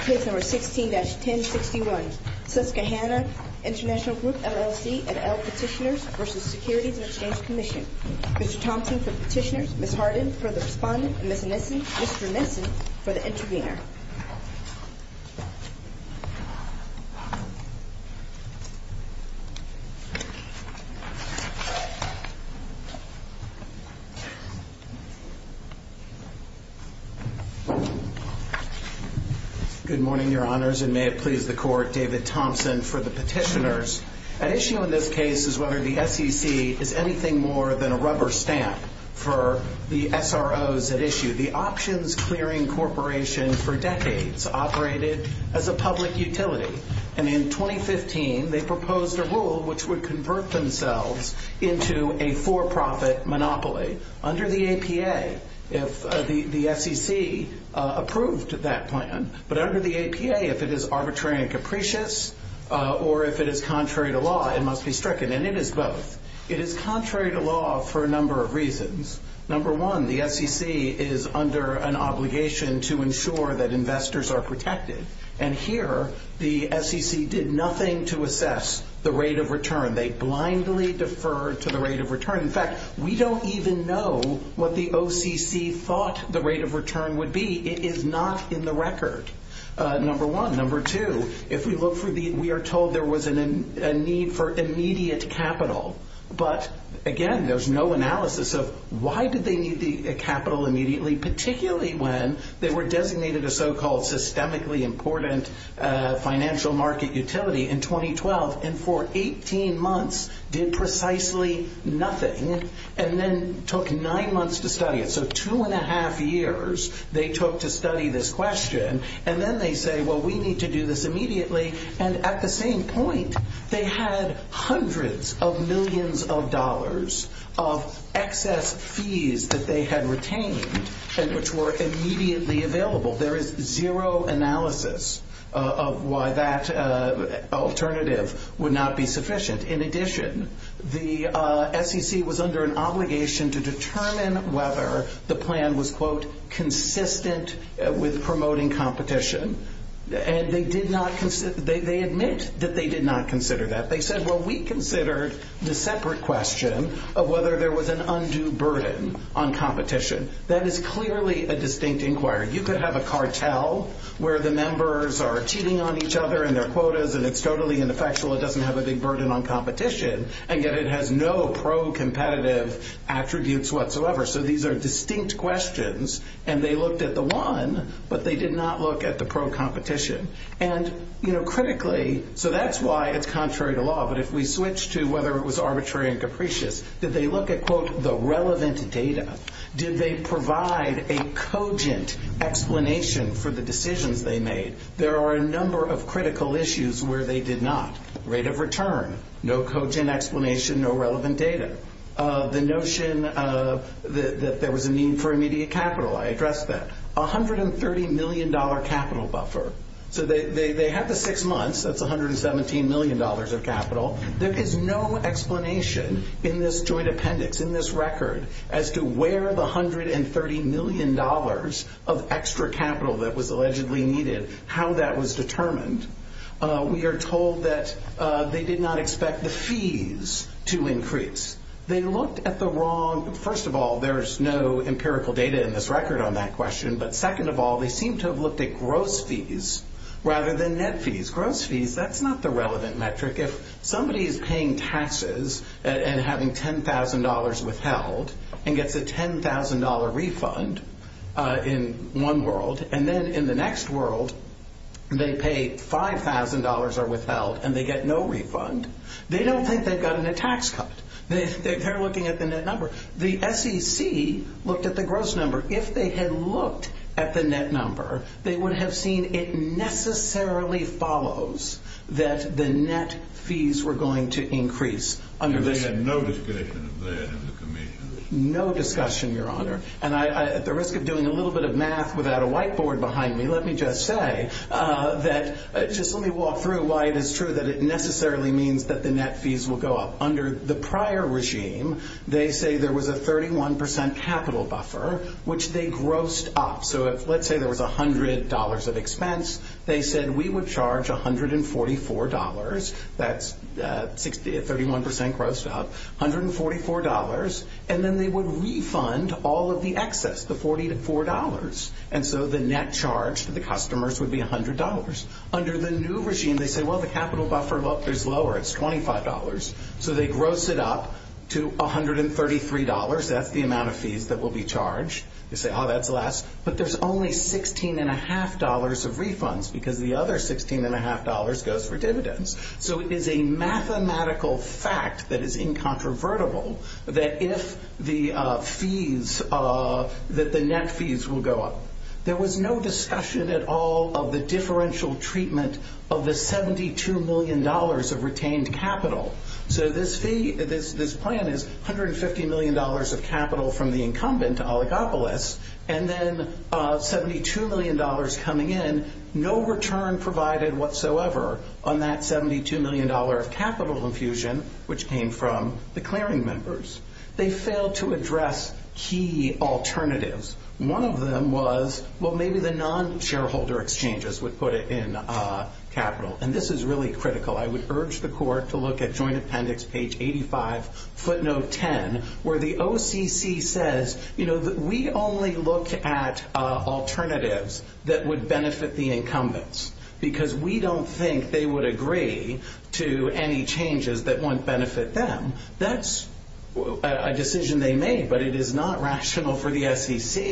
Case No. 16-1061, Susquehanna Int'l Group LLC and L Petitioners v. Securities and Exchange Commission Mr. Thompson for the petitioners, Ms. Hardin for the respondent, and Mr. Nissen for the intervener Good morning, Your Honors, and may it please the Court, David Thompson for the petitioners. At issue in this case is whether the SEC is anything more than a rubber stamp for the SROs at issue. The Options Clearing Corporation for decades operated as a public utility, and in 2015 they proposed a rule which would convert themselves into a for-profit monopoly under the APA if the SEC approved that plan. But under the APA, if it is arbitrary and capricious or if it is contrary to law, it must be stricken, and it is both. It is contrary to law for a number of reasons. Number one, the SEC is under an obligation to ensure that investors are protected, and here the SEC did nothing to assess the rate of return. They blindly deferred to the rate of return. In fact, we don't even know what the OCC thought the rate of return would be. It is not in the record, number one. Number two, we are told there was a need for immediate capital, but again, there's no analysis of why did they need the capital immediately, particularly when they were designated a so-called systemically important financial market utility in 2012 and for 18 months did precisely nothing and then took nine months to study it, so two and a half years they took to study this question, and then they say, well, we need to do this immediately, and at the same point they had hundreds of millions of dollars of excess fees that they had retained and which were immediately available. There is zero analysis of why that alternative would not be sufficient. In addition, the SEC was under an obligation to determine whether the plan was, quote, consistent with promoting competition, and they admit that they did not consider that. They said, well, we considered the separate question of whether there was an undue burden on competition. That is clearly a distinct inquiry. You could have a cartel where the members are cheating on each other in their quotas, and it's totally ineffectual, it doesn't have a big burden on competition, and yet it has no pro-competitive attributes whatsoever, so these are distinct questions, and they looked at the one, but they did not look at the pro-competition. And, you know, critically, so that's why it's contrary to law, but if we switch to whether it was arbitrary and capricious, did they look at, quote, the relevant data? Did they provide a cogent explanation for the decisions they made? There are a number of critical issues where they did not. Rate of return, no cogent explanation, no relevant data. The notion that there was a need for immediate capital, I addressed that. $130 million capital buffer, so they had the six months, that's $117 million of capital. There is no explanation in this joint appendix, in this record, as to where the $130 million of extra capital that was allegedly needed, how that was determined. We are told that they did not expect the fees to increase. They looked at the wrong, first of all, there's no empirical data in this record on that question, but second of all, they seem to have looked at gross fees rather than net fees. Gross fees, that's not the relevant metric. If somebody is paying taxes and having $10,000 withheld and gets a $10,000 refund in one world, and then in the next world they pay $5,000 or withheld and they get no refund, they don't think they've gotten a tax cut. They're looking at the net number. The SEC looked at the gross number. If they had looked at the net number, they would have seen it necessarily follows that the net fees were going to increase. And they had no discussion of that in the commission? No discussion, Your Honor, and at the risk of doing a little bit of math without a whiteboard behind me, let me just say that, just let me walk through why it is true that it necessarily means that the net fees will go up. Under the prior regime, they say there was a 31% capital buffer, which they grossed up. So let's say there was $100 of expense. They said we would charge $144. That's 31% grossed up, $144, and then they would refund all of the excess, the $44. And so the net charge to the customers would be $100. Under the new regime, they say, well, the capital buffer is lower. It's $25. So they gross it up to $133. That's the amount of fees that will be charged. They say, oh, that's less. But there's only $16.5 of refunds because the other $16.5 goes for dividends. So it is a mathematical fact that is incontrovertible that if the fees, that the net fees will go up. There was no discussion at all of the differential treatment of the $72 million of retained capital. So this plan is $150 million of capital from the incumbent, Oligopolis, and then $72 million coming in. No return provided whatsoever on that $72 million of capital infusion, which came from the clearing members. They failed to address key alternatives. One of them was, well, maybe the non-shareholder exchanges would put it in capital. And this is really critical. I would urge the court to look at Joint Appendix, page 85, footnote 10, where the OCC says, you know, we only look at alternatives that would benefit the incumbents because we don't think they would agree to any changes that wouldn't benefit them. That's a decision they made, but it is not rational for the SEC.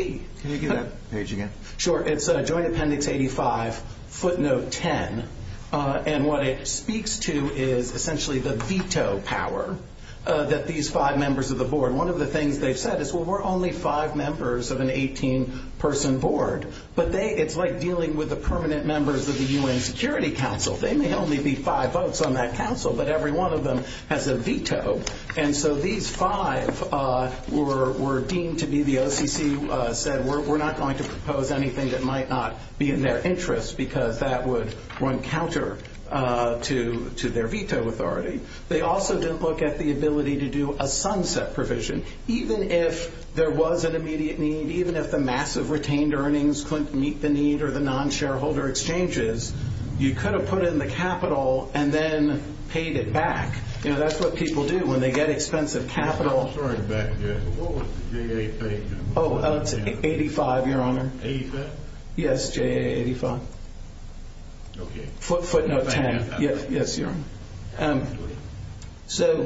Can you do that page again? Sure. It's Joint Appendix 85, footnote 10. And what it speaks to is essentially the veto power that these five members of the board. One of the things they've said is, well, we're only five members of an 18-person board, but it's like dealing with the permanent members of the U.N. Security Council. They may only be five votes on that council, but every one of them has a veto. And so these five were deemed to be the OCC said, we're not going to propose anything that might not be in their interest because that would run counter to their veto authority. They also didn't look at the ability to do a sunset provision. Even if there was an immediate need, even if the massive retained earnings couldn't meet the need or the non-shareholder exchanges, you could have put in the capital and then paid it back. That's what people do when they get expensive capital. I'm sorry, but what was the J.A. page? Oh, it's 85, Your Honor. 85? Yes, J.A. 85. Okay. Footnote 10. Yes, Your Honor. So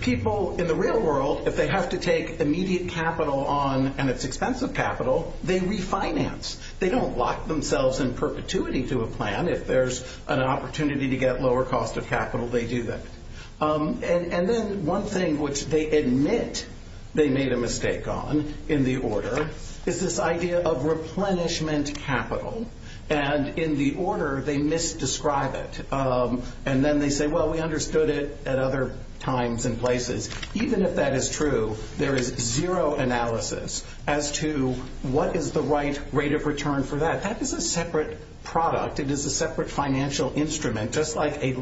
people in the real world, if they have to take immediate capital on, and it's expensive capital, they refinance. They don't lock themselves in perpetuity to a plan. If there's an opportunity to get lower cost of capital, they do that. And then one thing which they admit they made a mistake on in the order is this idea of replenishment capital. And in the order, they misdescribe it. And then they say, well, we understood it at other times and places. Even if that is true, there is zero analysis as to what is the right rate of return for that. That is a separate product. It is a separate financial instrument, just like a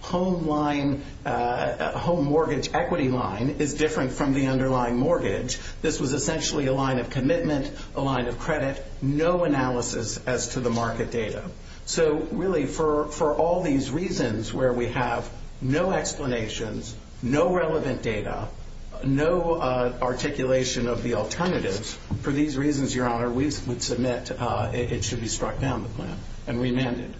home mortgage equity line is different from the underlying mortgage. This was essentially a line of commitment, a line of credit, no analysis as to the market data. So really for all these reasons where we have no explanations, no relevant data, no articulation of the alternatives, for these reasons, Your Honor, we would submit it should be struck down the plan and remanded.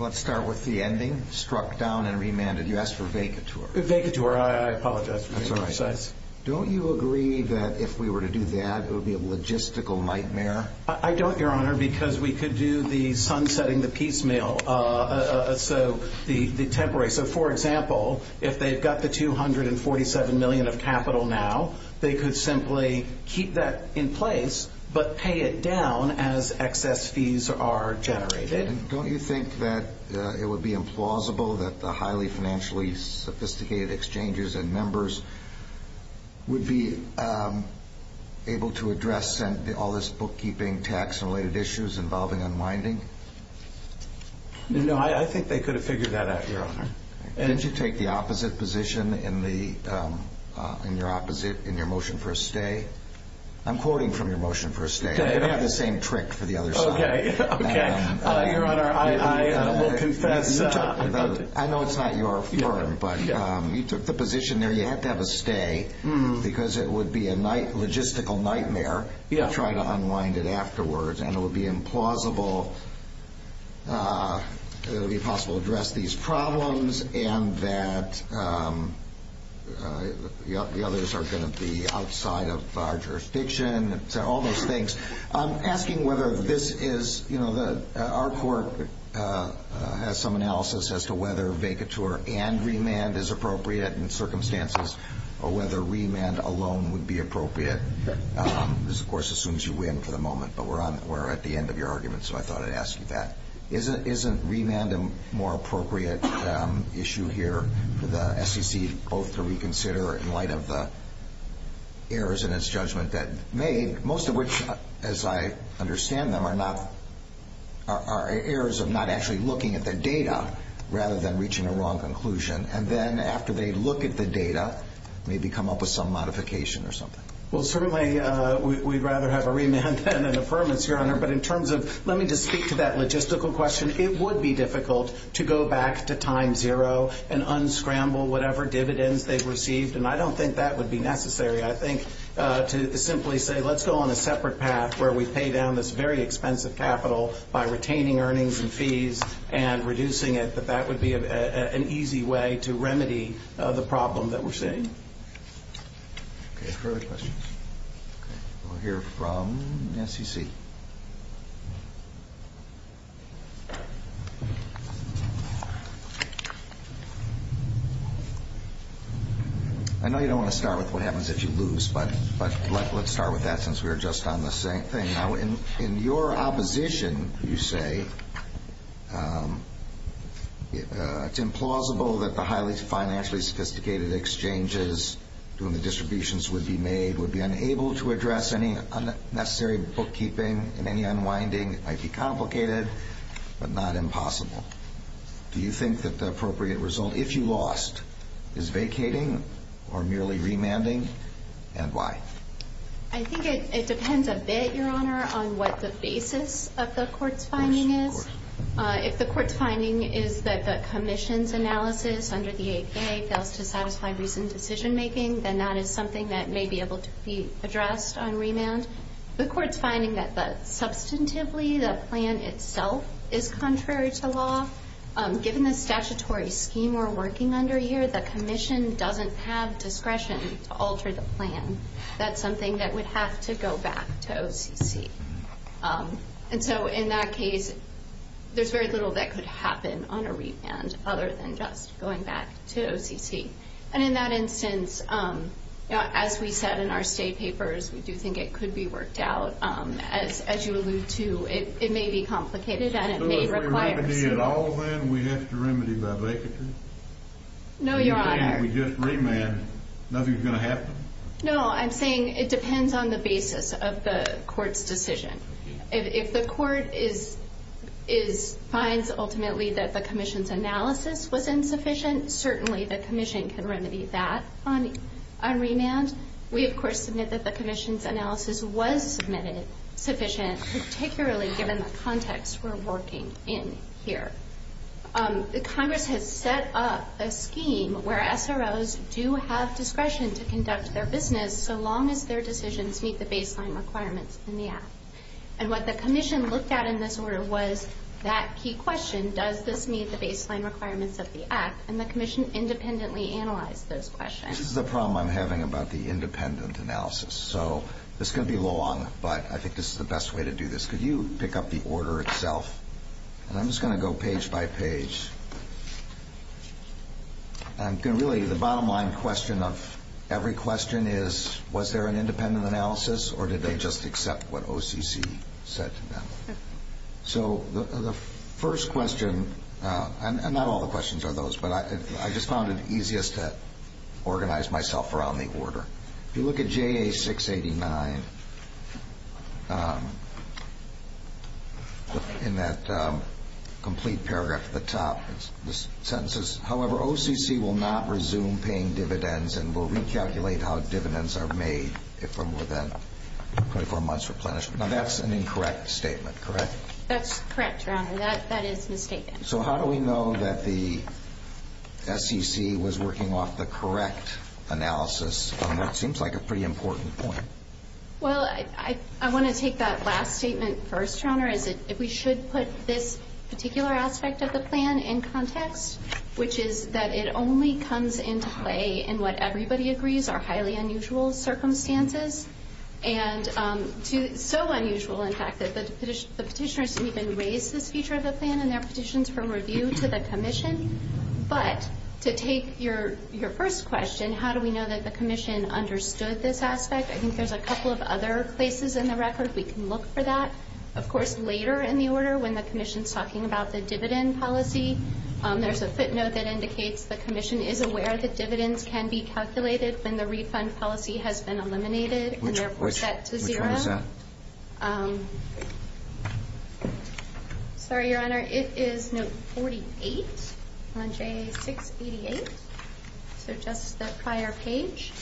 Let's start with the ending, struck down and remanded. You asked for vacatur. I apologize for being precise. That's all right. Don't you agree that if we were to do that, it would be a logistical nightmare? I don't, Your Honor, because we could do the sunsetting the piecemeal, so the temporary. So, for example, if they've got the $247 million of capital now, they could simply keep that in place but pay it down as excess fees are generated. Don't you think that it would be implausible that the highly financially sophisticated exchanges and members would be able to address all this bookkeeping, tax-related issues involving unwinding? No, I think they could have figured that out, Your Honor. Didn't you take the opposite position in your motion for a stay? I'm quoting from your motion for a stay. You don't have the same trick for the other side. Okay. Your Honor, I will confess. I know it's not your firm, but you took the position there you had to have a stay because it would be a logistical nightmare to try to unwind it afterwards, and it would be impossible to address these problems and that the others are going to be outside of our jurisdiction, all those things. I'm asking whether this is, you know, our court has some analysis as to whether vacatur and remand is appropriate in circumstances or whether remand alone would be appropriate. This, of course, assumes you win for the moment, but we're at the end of your argument, so I thought I'd ask you that. Isn't remand a more appropriate issue here for the SEC both to reconsider in light of the errors in its judgment that it made, most of which, as I understand them, are errors of not actually looking at the data rather than reaching a wrong conclusion, and then after they look at the data, maybe come up with some modification or something? Well, certainly we'd rather have a remand than an affirmance, Your Honor, but in terms of let me just speak to that logistical question. It would be difficult to go back to time zero and unscramble whatever dividends they've received, and I don't think that would be necessary. I think to simply say let's go on a separate path where we pay down this very expensive capital by retaining earnings and fees and reducing it, that that would be an easy way to remedy the problem that we're seeing. Okay, are there other questions? Okay, we'll hear from the SEC. I know you don't want to start with what happens if you lose, but let's start with that since we were just on the same thing. Now, in your opposition, you say it's implausible that the highly financially sophisticated exchanges doing the distributions would be made, would be unable to address any unnecessary bookkeeping and any unwinding. It might be complicated, but not impossible. Do you think that the appropriate result if you lost is vacating or merely remanding, and why? I think it depends a bit, Your Honor, on what the basis of the court's finding is. If the court's finding is that the commission's analysis under the APA fails to satisfy recent decision making, then that is something that may be able to be addressed on remand. If the court's finding that substantively the plan itself is contrary to law, given the statutory scheme we're working under here, the commission doesn't have discretion to alter the plan. That's something that would have to go back to OCC. And so in that case, there's very little that could happen on a remand other than just going back to OCC. And in that instance, as we said in our state papers, we do think it could be worked out. As you allude to, it may be complicated, and it may require a suit. So if we remedy it all, then we have to remedy by vacancy? No, Your Honor. If we just remand, nothing's going to happen? No, I'm saying it depends on the basis of the court's decision. If the court finds ultimately that the commission's analysis was insufficient, certainly the commission can remedy that on remand. We, of course, submit that the commission's analysis was submitted sufficient, particularly given the context we're working in here. Congress has set up a scheme where SROs do have discretion to conduct their business so long as their decisions meet the baseline requirements in the Act. And what the commission looked at in this order was that key question, does this meet the baseline requirements of the Act, and the commission independently analyzed those questions. This is the problem I'm having about the independent analysis. So this is going to be long, but I think this is the best way to do this. Could you pick up the order itself? And I'm just going to go page by page. Really, the bottom line question of every question is, was there an independent analysis, or did they just accept what OCC said to them? So the first question, and not all the questions are those, but I just found it easiest to organize myself around the order. If you look at JA-689, in that complete paragraph at the top, the sentence is, however, OCC will not resume paying dividends and will recalculate how dividends are made from within 24 months replenishment. Now, that's an incorrect statement, correct? That's correct, Your Honor. That is mistaken. So how do we know that the SEC was working off the correct analysis on what seems like a pretty important point? Well, I want to take that last statement first, Your Honor, is that we should put this particular aspect of the plan in context, which is that it only comes into play in what everybody agrees are highly unusual circumstances. And so unusual, in fact, that the petitioners didn't even raise this feature of the plan in their petitions for review to the Commission. But to take your first question, how do we know that the Commission understood this aspect? I think there's a couple of other places in the record we can look for that. Of course, later in the order, when the Commission's talking about the dividend policy, there's a footnote that indicates the Commission is aware that dividends can be calculated when the refund policy has been eliminated, and therefore set to zero. Which one is that? Sorry, Your Honor. It is note 48 on JA 688. So just the prior page.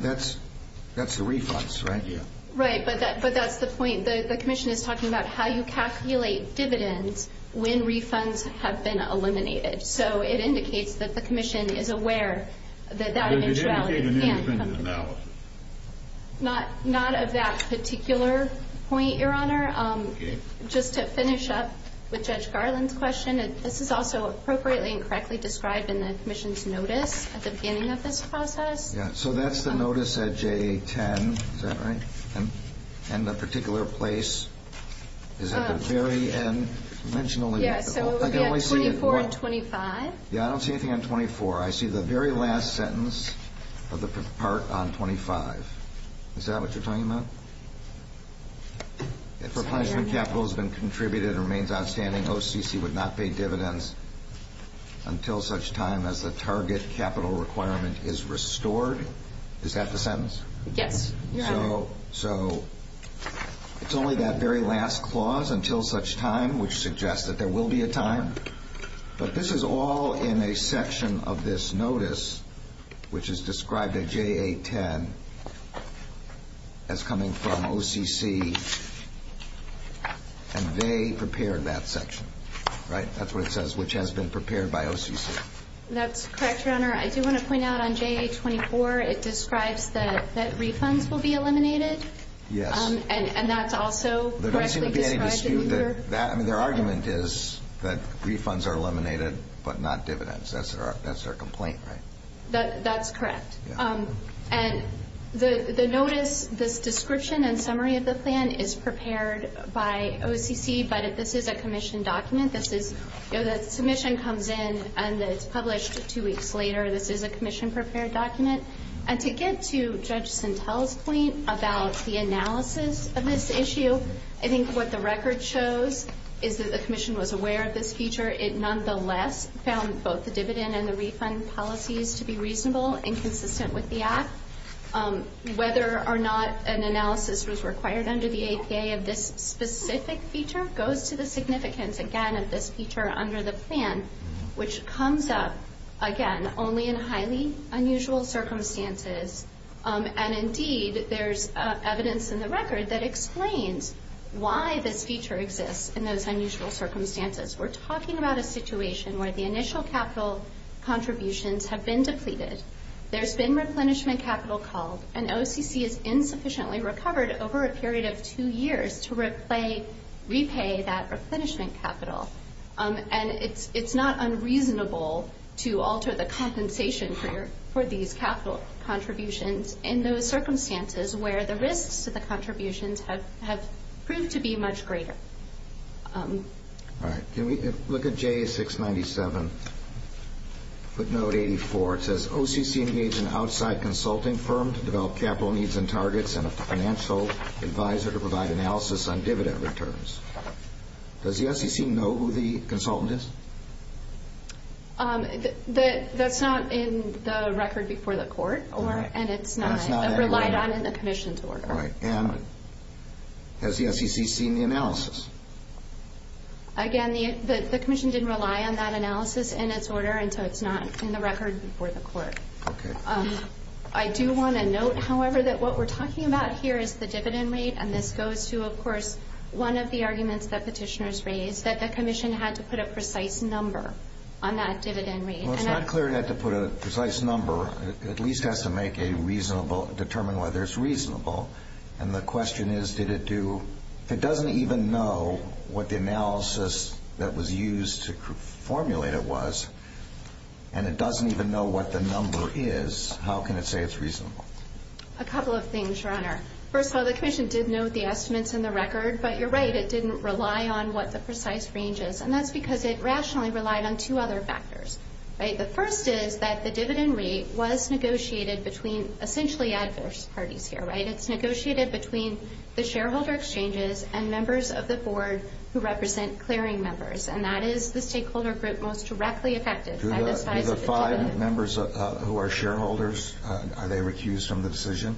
That's the refunds, right? Right, but that's the point. The Commission is talking about how you calculate dividends when refunds have been eliminated. So it indicates that the Commission is aware that that eventuality can be calculated. Not of that particular point, Your Honor. Just to finish up with Judge Garland's question, this is also appropriately and correctly described in the Commission's notice at the beginning of this process. Yeah, so that's the notice at JA 10. Is that right? And the particular place is at the very end. You mentioned only one. Yeah, so it would be on 24 and 25. Yeah, I don't see anything on 24. I see the very last sentence of the part on 25. Is that what you're talking about? If replenishment capital has been contributed and remains outstanding, OCC would not pay dividends until such time as the target capital requirement is restored. Is that the sentence? Yes, Your Honor. So it's only that very last clause, until such time, which suggests that there will be a time. But this is all in a section of this notice, which is described at JA 10 as coming from OCC. And they prepared that section, right? That's what it says, which has been prepared by OCC. That's correct, Your Honor. I do want to point out on JA 24, it describes that refunds will be eliminated. Yes. And that's also correctly described. Their argument is that refunds are eliminated but not dividends. That's their complaint, right? That's correct. And the notice, this description and summary of the plan is prepared by OCC, but this is a commission document. The submission comes in and it's published two weeks later. This is a commission-prepared document. And to get to Judge Sentelle's point about the analysis of this issue, I think what the record shows is that the commission was aware of this feature. It nonetheless found both the dividend and the refund policies to be reasonable and consistent with the act. Whether or not an analysis was required under the APA of this specific feature goes to the significance, again, of this feature under the plan, which comes up, again, only in highly unusual circumstances. And, indeed, there's evidence in the record that explains why this feature exists in those unusual circumstances. We're talking about a situation where the initial capital contributions have been depleted, there's been replenishment capital called, and OCC has insufficiently recovered over a period of two years to repay that replenishment capital. And it's not unreasonable to alter the compensation for these capital contributions in those circumstances where the risks to the contributions have proved to be much greater. All right. Can we look at JA697 footnote 84? It says, OCC engaged an outside consulting firm to develop capital needs and targets and a financial advisor to provide analysis on dividend returns. Does the SEC know who the consultant is? That's not in the record before the court, and it's not relied on in the commission's order. All right. And has the SEC seen the analysis? Again, the commission didn't rely on that analysis in its order, and so it's not in the record before the court. Okay. I do want to note, however, that what we're talking about here is the dividend rate, and this goes to, of course, one of the arguments that petitioners raised, that the commission had to put a precise number on that dividend rate. Well, it's not clear it had to put a precise number. It at least has to make a reasonable, determine whether it's reasonable. And the question is, did it do? If it doesn't even know what the analysis that was used to formulate it was, and it doesn't even know what the number is, how can it say it's reasonable? A couple of things, Your Honor. First of all, the commission did note the estimates in the record, but you're right. It didn't rely on what the precise range is, and that's because it rationally relied on two other factors. The first is that the dividend rate was negotiated between essentially adverse parties here. It's negotiated between the shareholder exchanges and members of the board who represent clearing members, and that is the stakeholder group most directly affected by the size of the dividend. Do the five members who are shareholders, are they recused from the decision?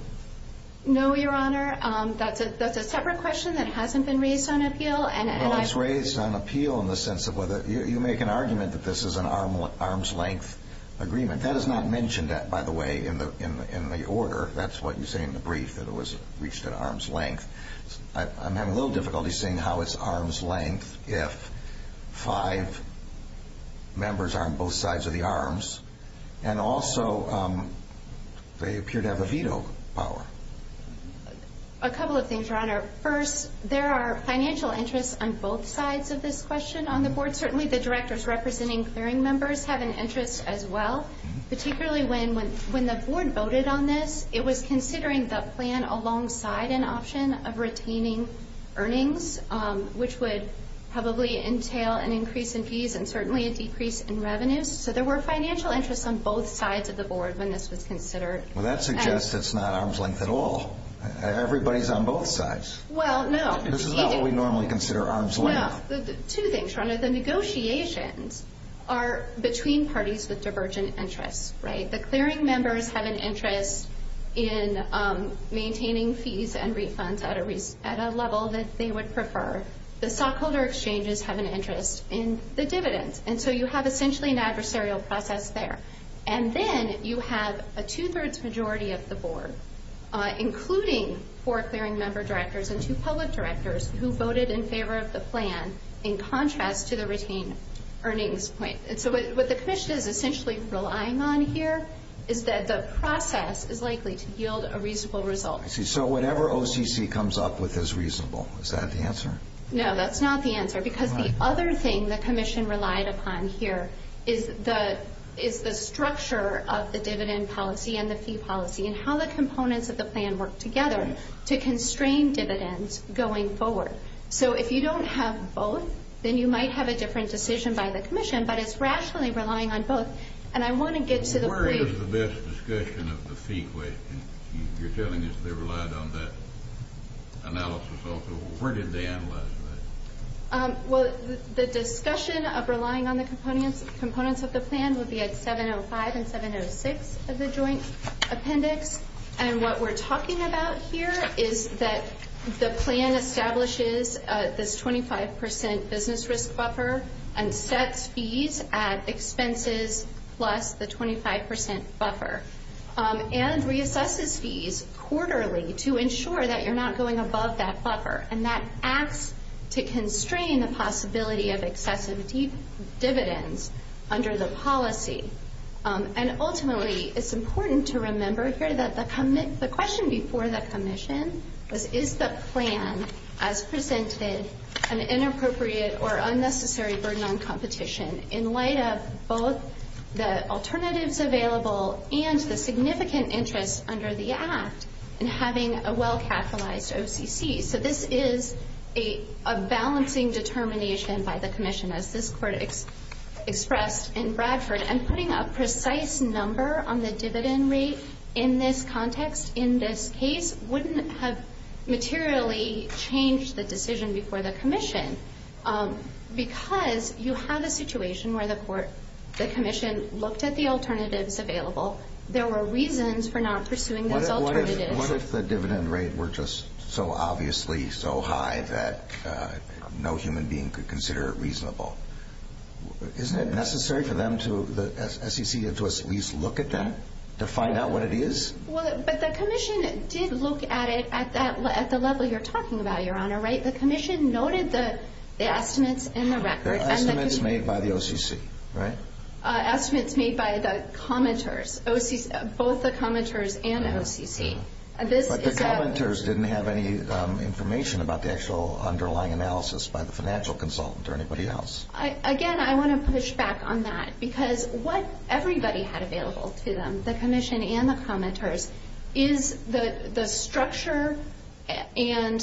No, Your Honor. That's a separate question that hasn't been raised on appeal. Well, it's raised on appeal in the sense of whether you make an argument that this is an arm's length agreement. That is not mentioned, by the way, in the order. That's what you say in the brief, that it was reached at arm's length. I'm having a little difficulty seeing how it's arm's length if five members are on both sides of the arms, and also they appear to have a veto power. A couple of things, Your Honor. First, there are financial interests on both sides of this question on the board. Certainly the directors representing clearing members have an interest as well, particularly when the board voted on this, it was considering the plan alongside an option of retaining earnings, which would probably entail an increase in fees and certainly a decrease in revenues. So there were financial interests on both sides of the board when this was considered. Well, that suggests it's not arm's length at all. Everybody's on both sides. Well, no. This is not what we normally consider arm's length. Well, two things, Your Honor. The negotiations are between parties with divergent interests, right? The clearing members have an interest in maintaining fees and refunds at a level that they would prefer. The stockholder exchanges have an interest in the dividends, and so you have essentially an adversarial process there. And then you have a two-thirds majority of the board, including four clearing member directors and two public directors who voted in favor of the plan, in contrast to the retained earnings point. And so what the commission is essentially relying on here is that the process is likely to yield a reasonable result. I see. So whatever OCC comes up with is reasonable. Is that the answer? No, that's not the answer because the other thing the commission relied upon here is the structure of the dividend policy and the fee policy and how the components of the plan work together to constrain dividends going forward. So if you don't have both, then you might have a different decision by the commission. But it's rationally relying on both. And I want to get to the brief. Where is the best discussion of the fee question? You're telling us they relied on that analysis also. Where did they analyze that? Well, the discussion of relying on the components of the plan would be at 705 and 706 of the joint appendix. And what we're talking about here is that the plan establishes this 25% business risk buffer and sets fees at expenses plus the 25% buffer and reassesses fees quarterly to ensure that you're not going above that buffer. And that acts to constrain the possibility of excessive dividends under the policy. And ultimately, it's important to remember here that the question before the commission was, is the plan as presented an inappropriate or unnecessary burden on competition in light of both the alternatives available and the significant interest under the act in having a well-capitalized OCC? So this is a balancing determination by the commission, as this court expressed in Bradford. And putting a precise number on the dividend rate in this context, in this case, wouldn't have materially changed the decision before the commission. Because you have a situation where the commission looked at the alternatives available. There were reasons for not pursuing those alternatives. What if the dividend rate were just so obviously so high that no human being could consider it reasonable? Isn't it necessary for the SEC to at least look at them to find out what it is? But the commission did look at it at the level you're talking about, Your Honor, right? The commission noted the estimates in the record. The estimates made by the OCC, right? Estimates made by the commenters, both the commenters and OCC. But the commenters didn't have any information about the actual underlying analysis by the financial consultant or anybody else. Again, I want to push back on that. Because what everybody had available to them, the commission and the commenters, is the structure and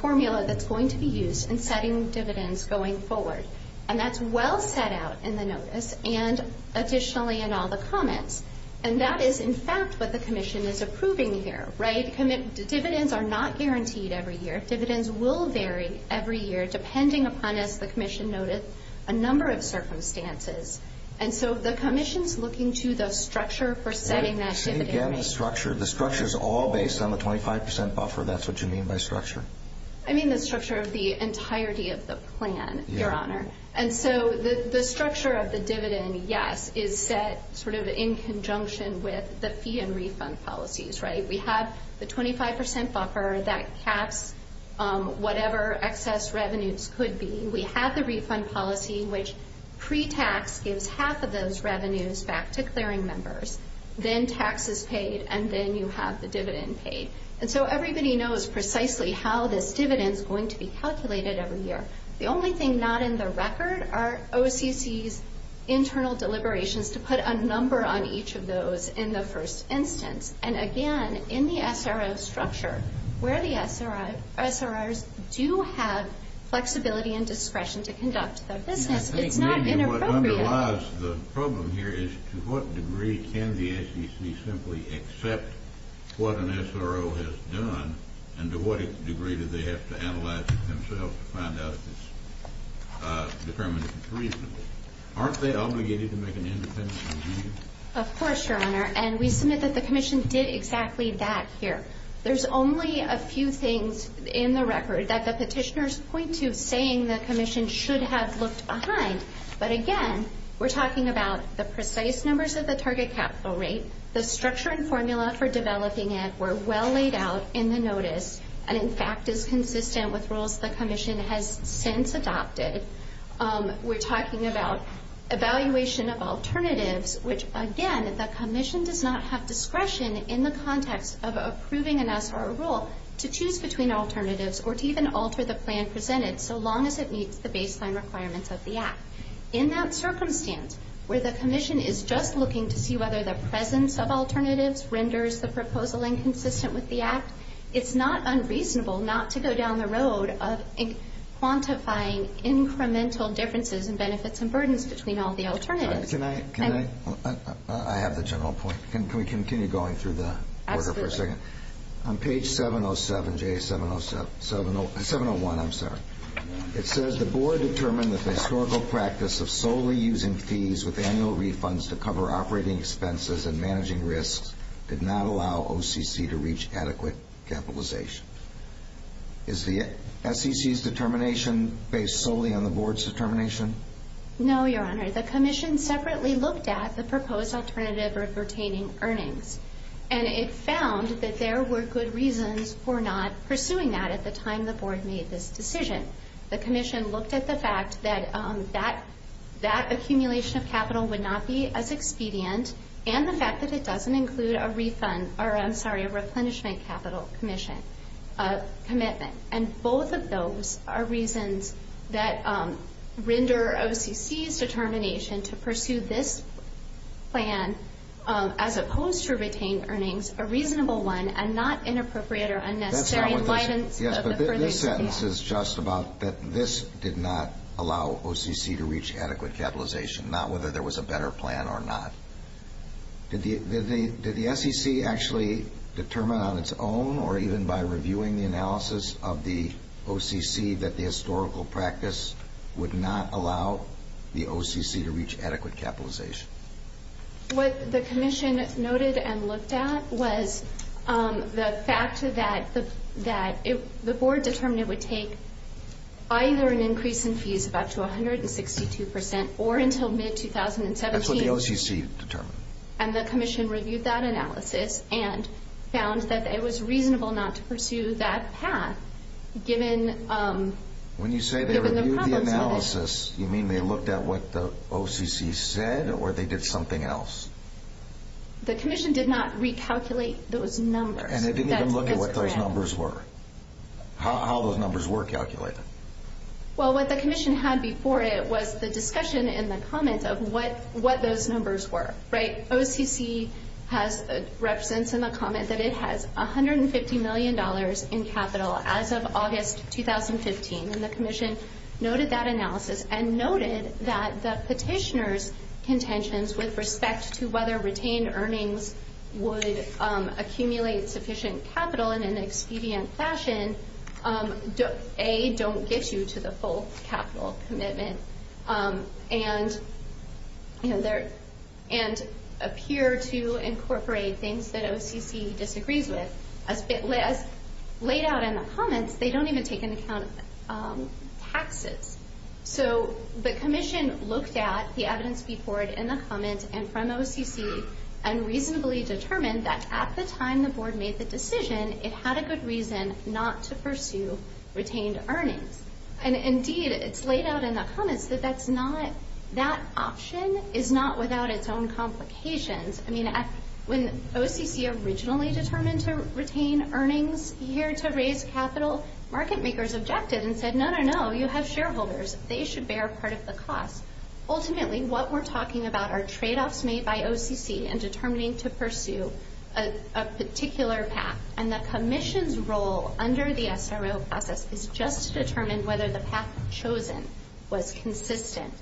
formula that's going to be used in setting dividends going forward. And that's well set out in the notice and additionally in all the comments. And that is, in fact, what the commission is approving here, right? Dividends are not guaranteed every year. Dividends will vary every year depending upon, as the commission noted, a number of circumstances. And so the commission's looking to the structure for setting that dividend rate. Say again the structure. The structure's all based on the 25% buffer. That's what you mean by structure? I mean the structure of the entirety of the plan, Your Honor. And so the structure of the dividend, yes, is set sort of in conjunction with the fee and refund policies, right? We have the 25% buffer that caps whatever excess revenues could be. We have the refund policy, which pre-tax gives half of those revenues back to clearing members. Then tax is paid, and then you have the dividend paid. And so everybody knows precisely how this dividend's going to be calculated every year. The only thing not in the record are OCC's internal deliberations to put a number on each of those in the first instance. And again, in the SRO structure, where the SROs do have flexibility and discretion to conduct their business, it's not inappropriate. The problem here is to what degree can the SEC simply accept what an SRO has done, and to what degree do they have to analyze it themselves to find out if it's determined to be reasonable? Aren't they obligated to make an independent decision? Of course, Your Honor. And we submit that the commission did exactly that here. There's only a few things in the record that the petitioners point to saying the commission should have looked behind. But again, we're talking about the precise numbers of the target capital rate, the structure and formula for developing it were well laid out in the notice, and in fact is consistent with rules the commission has since adopted. We're talking about evaluation of alternatives, which, again, the commission does not have discretion in the context of approving an SRO rule to choose between alternatives or to even alter the plan presented so long as it meets the baseline requirements of the Act. In that circumstance, where the commission is just looking to see whether the presence of alternatives renders the proposal inconsistent with the Act, it's not unreasonable not to go down the road of quantifying incremental differences in benefits and burdens between all the alternatives. Can I? I have the general point. On page 701, it says the board determined that the historical practice of solely using fees with annual refunds to cover operating expenses and managing risks did not allow OCC to reach adequate capitalization. Is the SEC's determination based solely on the board's determination? No, Your Honor. The commission separately looked at the proposed alternative of retaining earnings, and it found that there were good reasons for not pursuing that at the time the board made this decision. The commission looked at the fact that that accumulation of capital would not be as expedient and the fact that it doesn't include a replenishment capital commitment. And both of those are reasons that render OCC's determination to pursue this plan as opposed to retain earnings a reasonable one and not inappropriate or unnecessary in license of the further use of the Act. Yes, but this sentence is just about that this did not allow OCC to reach adequate capitalization, not whether there was a better plan or not. Did the SEC actually determine on its own or even by reviewing the analysis of the OCC that the historical practice would not allow the OCC to reach adequate capitalization? What the commission noted and looked at was the fact that the board determined it would take either an increase in fees, about to 162 percent, or until mid-2017. That's what the OCC determined. And the commission reviewed that analysis and found that it was reasonable not to pursue that path given the problems with it. When you say they reviewed the analysis, you mean they looked at what the OCC said or they did something else? The commission did not recalculate those numbers. And they didn't even look at what those numbers were? How those numbers were calculated? Well, what the commission had before it was the discussion and the comment of what those numbers were, right? OCC represents in the comment that it has $150 million in capital as of August 2015. And the commission noted that analysis and noted that the petitioner's contentions with respect to whether retained earnings would accumulate sufficient capital in an expedient fashion, A, don't get you to the full capital commitment, and appear to incorporate things that OCC disagrees with. As laid out in the comments, they don't even take into account taxes. So the commission looked at the evidence before it in the comments and from OCC and reasonably determined that at the time the board made the decision, it had a good reason not to pursue retained earnings. And indeed, it's laid out in the comments that that option is not without its own complications. I mean, when OCC originally determined to retain earnings here to raise capital, market makers objected and said, no, no, no, you have shareholders. They should bear part of the cost. Ultimately, what we're talking about are tradeoffs made by OCC in determining to pursue a particular path. And the commission's role under the SRO process is just to determine whether the path chosen was consistent.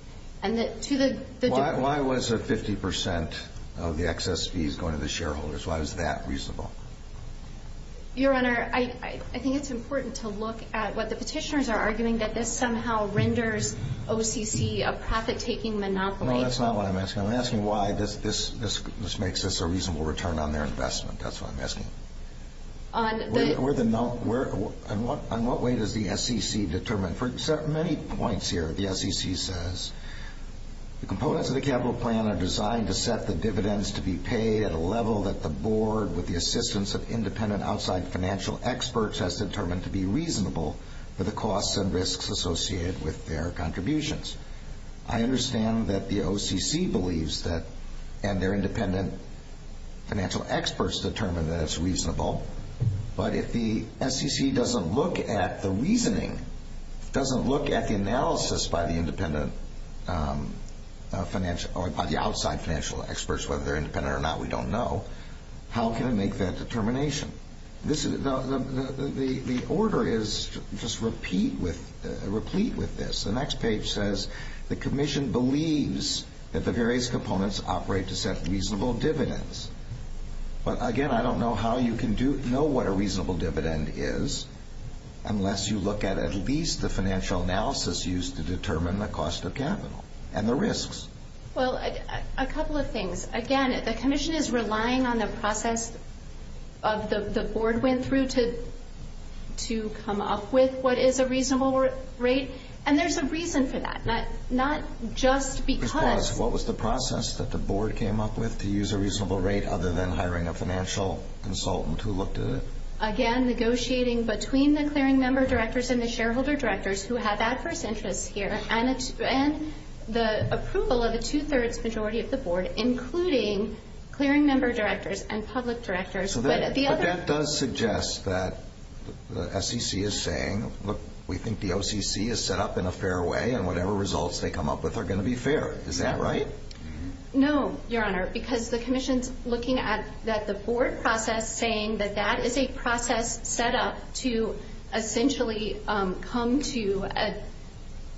Why was a 50 percent of the excess fees going to the shareholders? Why was that reasonable? Your Honor, I think it's important to look at what the petitioners are arguing, that this somehow renders OCC a profit-taking monopoly. No, that's not what I'm asking. I'm asking why this makes us a reasonable return on their investment. That's what I'm asking. On the- On what way does the SEC determine? For many points here, the SEC says, The components of the capital plan are designed to set the dividends to be paid at a level that the board, with the assistance of independent outside financial experts, has determined to be reasonable for the costs and risks associated with their contributions. I understand that the OCC believes that, and their independent financial experts determine that it's reasonable. But if the SEC doesn't look at the reasoning, doesn't look at the analysis by the independent financial, or by the outside financial experts, whether they're independent or not, we don't know, how can it make that determination? The order is just replete with this. The next page says, The commission believes that the various components operate to set reasonable dividends. But again, I don't know how you can know what a reasonable dividend is, unless you look at at least the financial analysis used to determine the cost of capital and the risks. Well, a couple of things. Again, the commission is relying on the process of the board went through to come up with what is a reasonable rate. And there's a reason for that, not just because- other than hiring a financial consultant who looked at it. Again, negotiating between the clearing member directors and the shareholder directors who have adverse interests here, and the approval of a two-thirds majority of the board, including clearing member directors and public directors. But that does suggest that the SEC is saying, look, we think the OCC is set up in a fair way, and whatever results they come up with are going to be fair. Is that right? No, Your Honor, because the commission's looking at the board process, saying that that is a process set up to essentially come to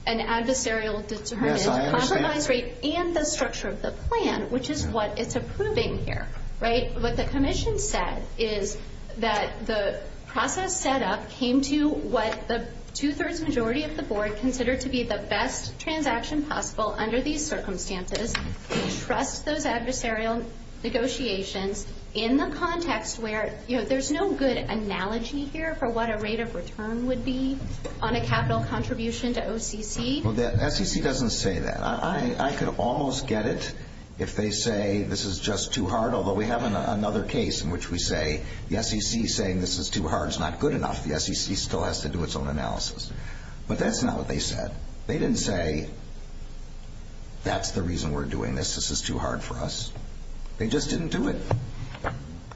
an adversarial determined compromise rate and the structure of the plan, which is what it's approving here. What the commission said is that the process set up came to what the two-thirds majority of the board considered to be the best transaction possible under these circumstances. They trust those adversarial negotiations in the context where, you know, there's no good analogy here for what a rate of return would be on a capital contribution to OCC. Well, the SEC doesn't say that. I could almost get it if they say this is just too hard, although we have another case in which we say the SEC saying this is too hard is not good enough. The SEC still has to do its own analysis. But that's not what they said. They didn't say that's the reason we're doing this, this is too hard for us. They just didn't do it.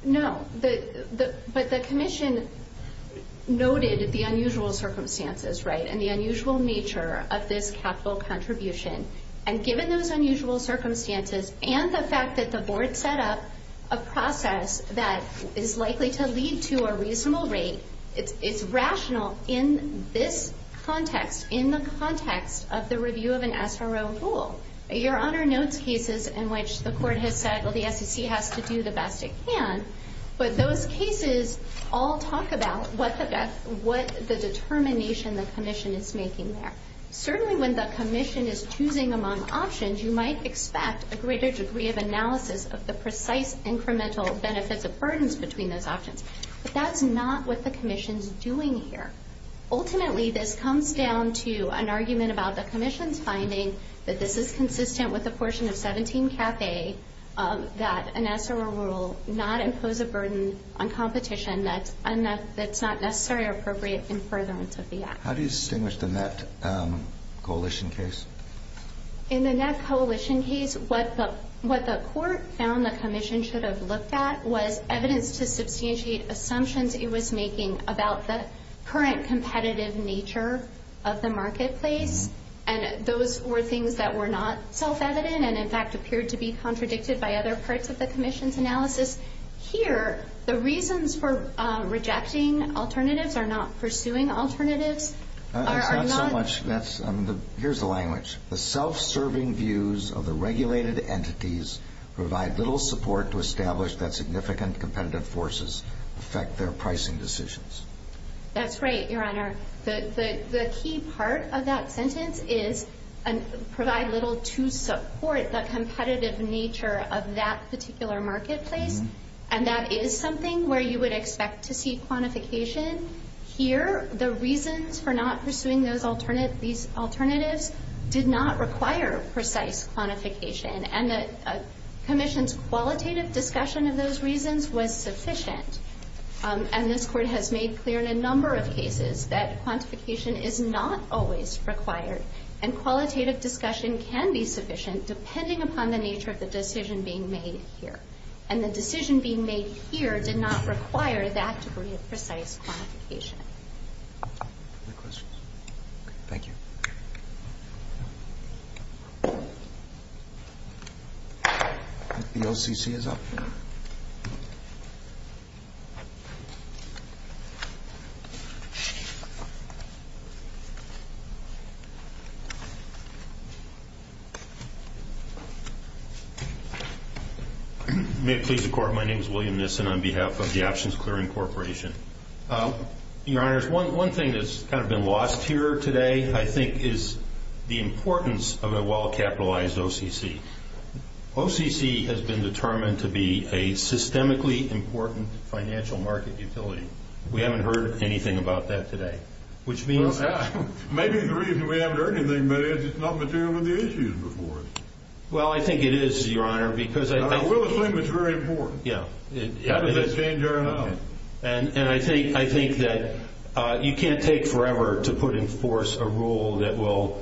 No, but the commission noted the unusual circumstances, right, and the unusual nature of this capital contribution, and given those unusual circumstances and the fact that the board set up a process that is likely to lead to a reasonable rate, it's rational in this context, in the context of the review of an SRO rule. Your Honor notes cases in which the court has said, well, the SEC has to do the best it can, but those cases all talk about what the determination the commission is making there. Certainly when the commission is choosing among options, you might expect a greater degree of analysis of the precise incremental benefits of burdens between those options. But that's not what the commission's doing here. Ultimately, this comes down to an argument about the commission's finding that this is consistent with a portion of 17 cafe, that an SRO rule not impose a burden on competition that's not necessary or appropriate in furtherance of the act. How do you distinguish the net coalition case? In the net coalition case, what the court found the commission should have looked at was evidence to substantiate assumptions it was making about the current competitive nature of the marketplace, and those were things that were not self-evident and, in fact, appeared to be contradicted by other parts of the commission's analysis. Here, the reasons for rejecting alternatives are not pursuing alternatives. Here's the language. The self-serving views of the regulated entities provide little support to establish that significant competitive forces affect their pricing decisions. That's right, Your Honor. The key part of that sentence is provide little to support the competitive nature of that particular marketplace, and that is something where you would expect to see quantification. Here, the reasons for not pursuing these alternatives did not require precise quantification, and the commission's qualitative discussion of those reasons was sufficient, and this court has made clear in a number of cases that quantification is not always required, and qualitative discussion can be sufficient depending upon the nature of the decision being made here, and the decision being made here did not require that degree of precise quantification. Any questions? Thank you. Thank you. The OCC is up. May it please the Court, my name is William Nissen on behalf of the Options Clearing Corporation. Your Honors, one thing that's kind of been lost here today, I think, is the importance of a well-capitalized OCC. OCC has been determined to be a systemically important financial market utility. We haven't heard anything about that today, which means Maybe the reason we haven't heard anything about it is it's not material with the issues before it. Well, I think it is, Your Honor, because I will assume it's very important. Yeah. And I think that you can't take forever to put in force a rule that will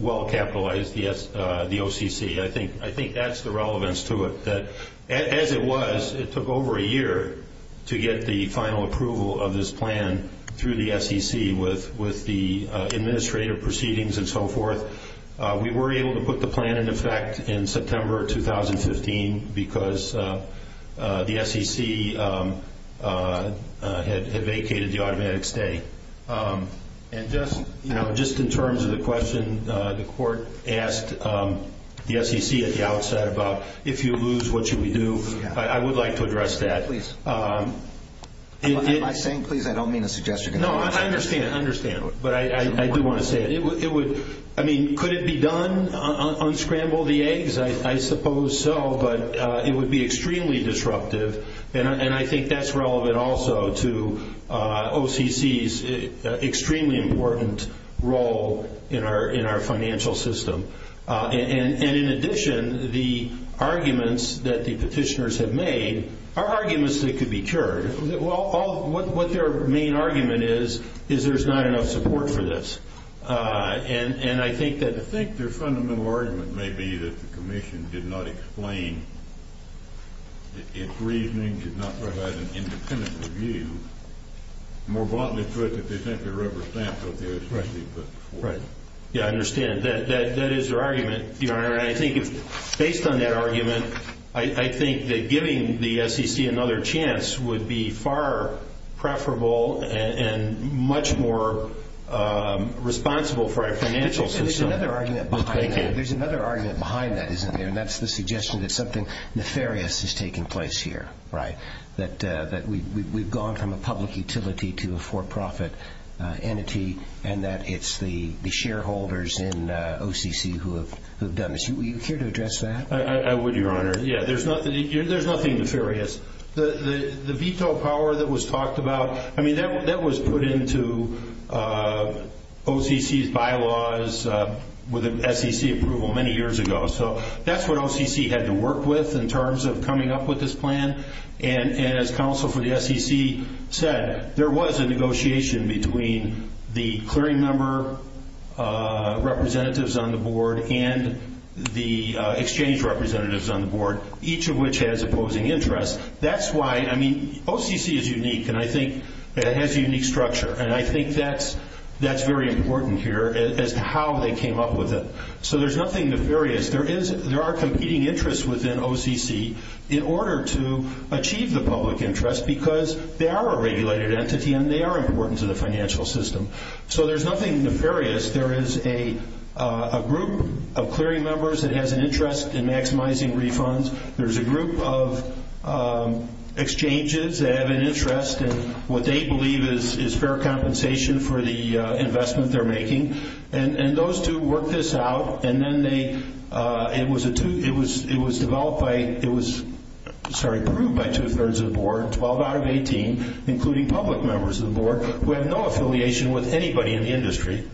well-capitalize the OCC. I think that's the relevance to it. As it was, it took over a year to get the final approval of this plan through the SEC with the administrative proceedings and so forth. We were able to put the plan in effect in September 2015 because the SEC had vacated the automatic stay. And just in terms of the question the Court asked the SEC at the outset about if you lose, what should we do, I would like to address that. Please. Am I saying please? I don't mean to suggest you're going to lose. No, I understand. But I do want to say it. I mean, could it be done, unscramble the eggs? I suppose so, but it would be extremely disruptive. And I think that's relevant also to OCC's extremely important role in our financial system. And in addition, the arguments that the petitioners have made are arguments that could be cured. Well, what their main argument is, is there's not enough support for this. And I think that the I think their fundamental argument may be that the Commission did not explain, its reasoning did not provide an independent review. More bluntly put, that they think they're rubber-stamped what they're expressing. Right. Yeah, I understand. That is their argument, Your Honor. Based on that argument, I think that giving the SEC another chance would be far preferable and much more responsible for our financial system. There's another argument behind that, isn't there? And that's the suggestion that something nefarious is taking place here, right? That we've gone from a public utility to a for-profit entity, and that it's the shareholders in OCC who have done this. Are you here to address that? I would, Your Honor. Yeah, there's nothing nefarious. The veto power that was talked about, I mean, that was put into OCC's bylaws with SEC approval many years ago. So that's what OCC had to work with in terms of coming up with this plan. And as counsel for the SEC said, there was a negotiation between the clearing member representatives on the board and the exchange representatives on the board, each of which has opposing interests. That's why, I mean, OCC is unique, and I think it has a unique structure. And I think that's very important here as to how they came up with it. So there's nothing nefarious. There are competing interests within OCC in order to achieve the public interest because they are a regulated entity and they are important to the financial system. So there's nothing nefarious. There is a group of clearing members that has an interest in maximizing refunds. There's a group of exchanges that have an interest in what they believe is fair compensation for the investment they're making. And those two work this out, and then it was approved by two-thirds of the board, 12 out of 18, including public members of the board who have no affiliation with anybody in the industry.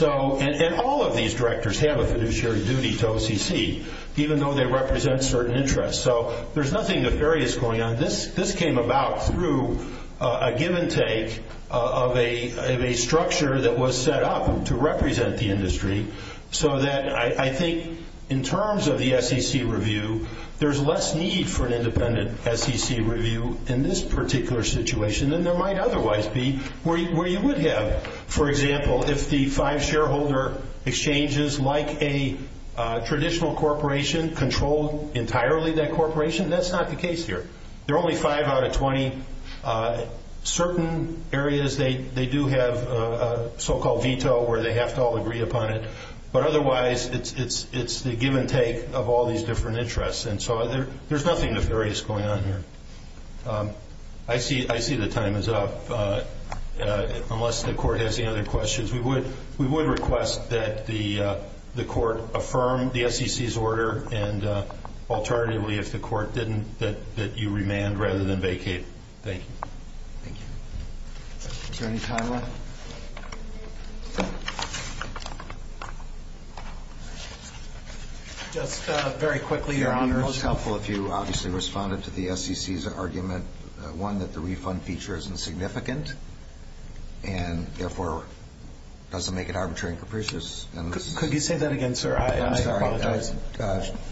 And all of these directors have a fiduciary duty to OCC, even though they represent certain interests. So there's nothing nefarious going on. This came about through a give-and-take of a structure that was set up to represent the industry so that I think in terms of the SEC review, there's less need for an independent SEC review in this particular situation than there might otherwise be where you would have. For example, if the five shareholder exchanges, like a traditional corporation, control entirely that corporation, that's not the case here. They're only five out of 20. Certain areas, they do have a so-called veto where they have to all agree upon it. But otherwise, it's the give-and-take of all these different interests. And so there's nothing nefarious going on here. I see the time is up, unless the court has any other questions. We would request that the court affirm the SEC's order, and alternatively, if the court didn't, that you remand rather than vacate. Thank you. Thank you. Is there any time left? Just very quickly, Your Honor, it's helpful if you obviously responded to the SEC's argument, one, that the refund feature isn't significant and, therefore, doesn't make it arbitrary and capricious. Could you say that again, sir? I apologize.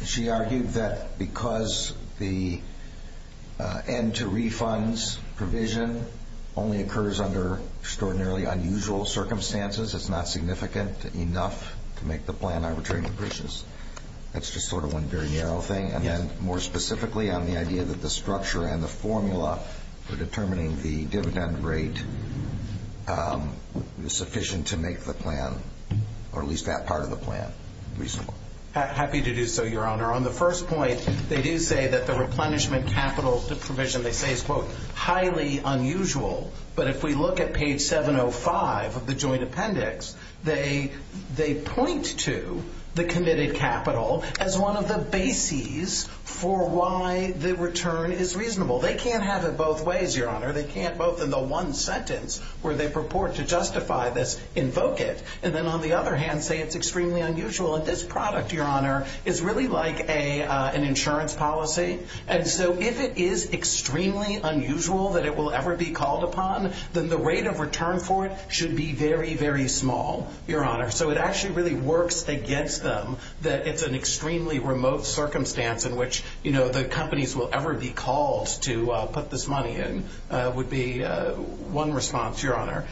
She argued that because the end-to-refunds provision only occurs under extraordinarily unusual circumstances, it's not significant enough to make the plan arbitrary and capricious. That's just sort of one very narrow thing. And then, more specifically, on the idea that the structure and the formula for determining the dividend rate is sufficient to make the plan, or at least that part of the plan, reasonable. Happy to do so, Your Honor. On the first point, they do say that the replenishment capital provision, they say, is, quote, highly unusual. But if we look at page 705 of the joint appendix, they point to the committed capital as one of the bases for why the return is reasonable. They can't have it both ways, Your Honor. They can't both, in the one sentence where they purport to justify this, invoke it, and then, on the other hand, say it's extremely unusual. And this product, Your Honor, is really like an insurance policy. And so if it is extremely unusual that it will ever be called upon, then the rate of return for it should be very, very small, Your Honor. So it actually really works against them that it's an extremely remote circumstance in which the companies will ever be called to put this money in, would be one response, Your Honor.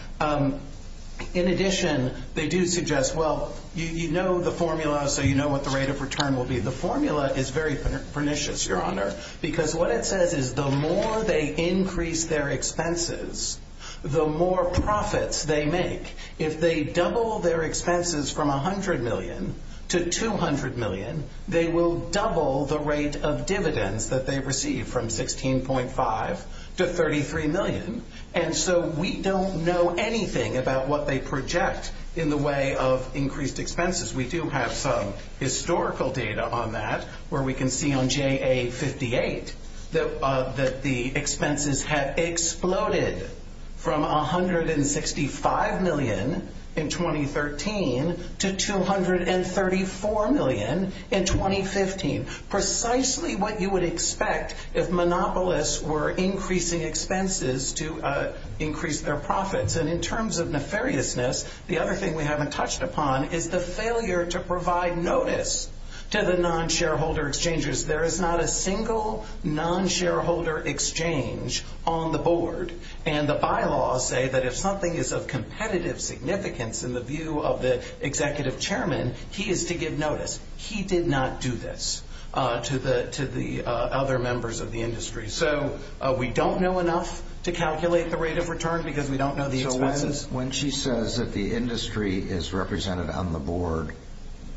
In addition, they do suggest, well, you know the formula, so you know what the rate of return will be. The formula is very pernicious, Your Honor, because what it says is the more they increase their expenses, the more profits they make. If they double their expenses from $100 million to $200 million, they will double the rate of dividends that they receive from $16.5 to $33 million. And so we don't know anything about what they project in the way of increased expenses. We do have some historical data on that where we can see on JA58 that the expenses have exploded from $165 million in 2013 to $234 million in 2015, precisely what you would expect if monopolists were increasing expenses to increase their profits. And in terms of nefariousness, the other thing we haven't touched upon is the failure to provide notice to the non-shareholder exchanges. There is not a single non-shareholder exchange on the board. And the bylaws say that if something is of competitive significance in the view of the executive chairman, he is to give notice. He did not do this to the other members of the industry. So we don't know enough to calculate the rate of return because we don't know the expenses. So when she says that the industry is represented on the board,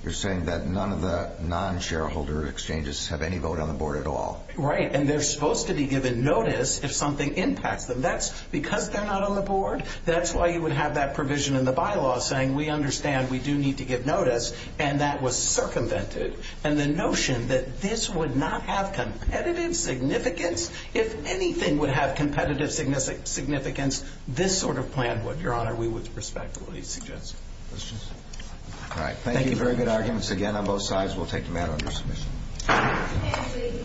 you're saying that none of the non-shareholder exchanges have any vote on the board at all? Right. And they're supposed to be given notice if something impacts them. That's because they're not on the board. That's why you would have that provision in the bylaws saying we understand we do need to give notice. And that was circumvented. And the notion that this would not have competitive significance, if anything would have competitive significance, this sort of plan would. Your Honor, we would respect what he suggests. Questions? All right. Thank you. Thank you. Very good arguments again on both sides. We'll take them out under submission.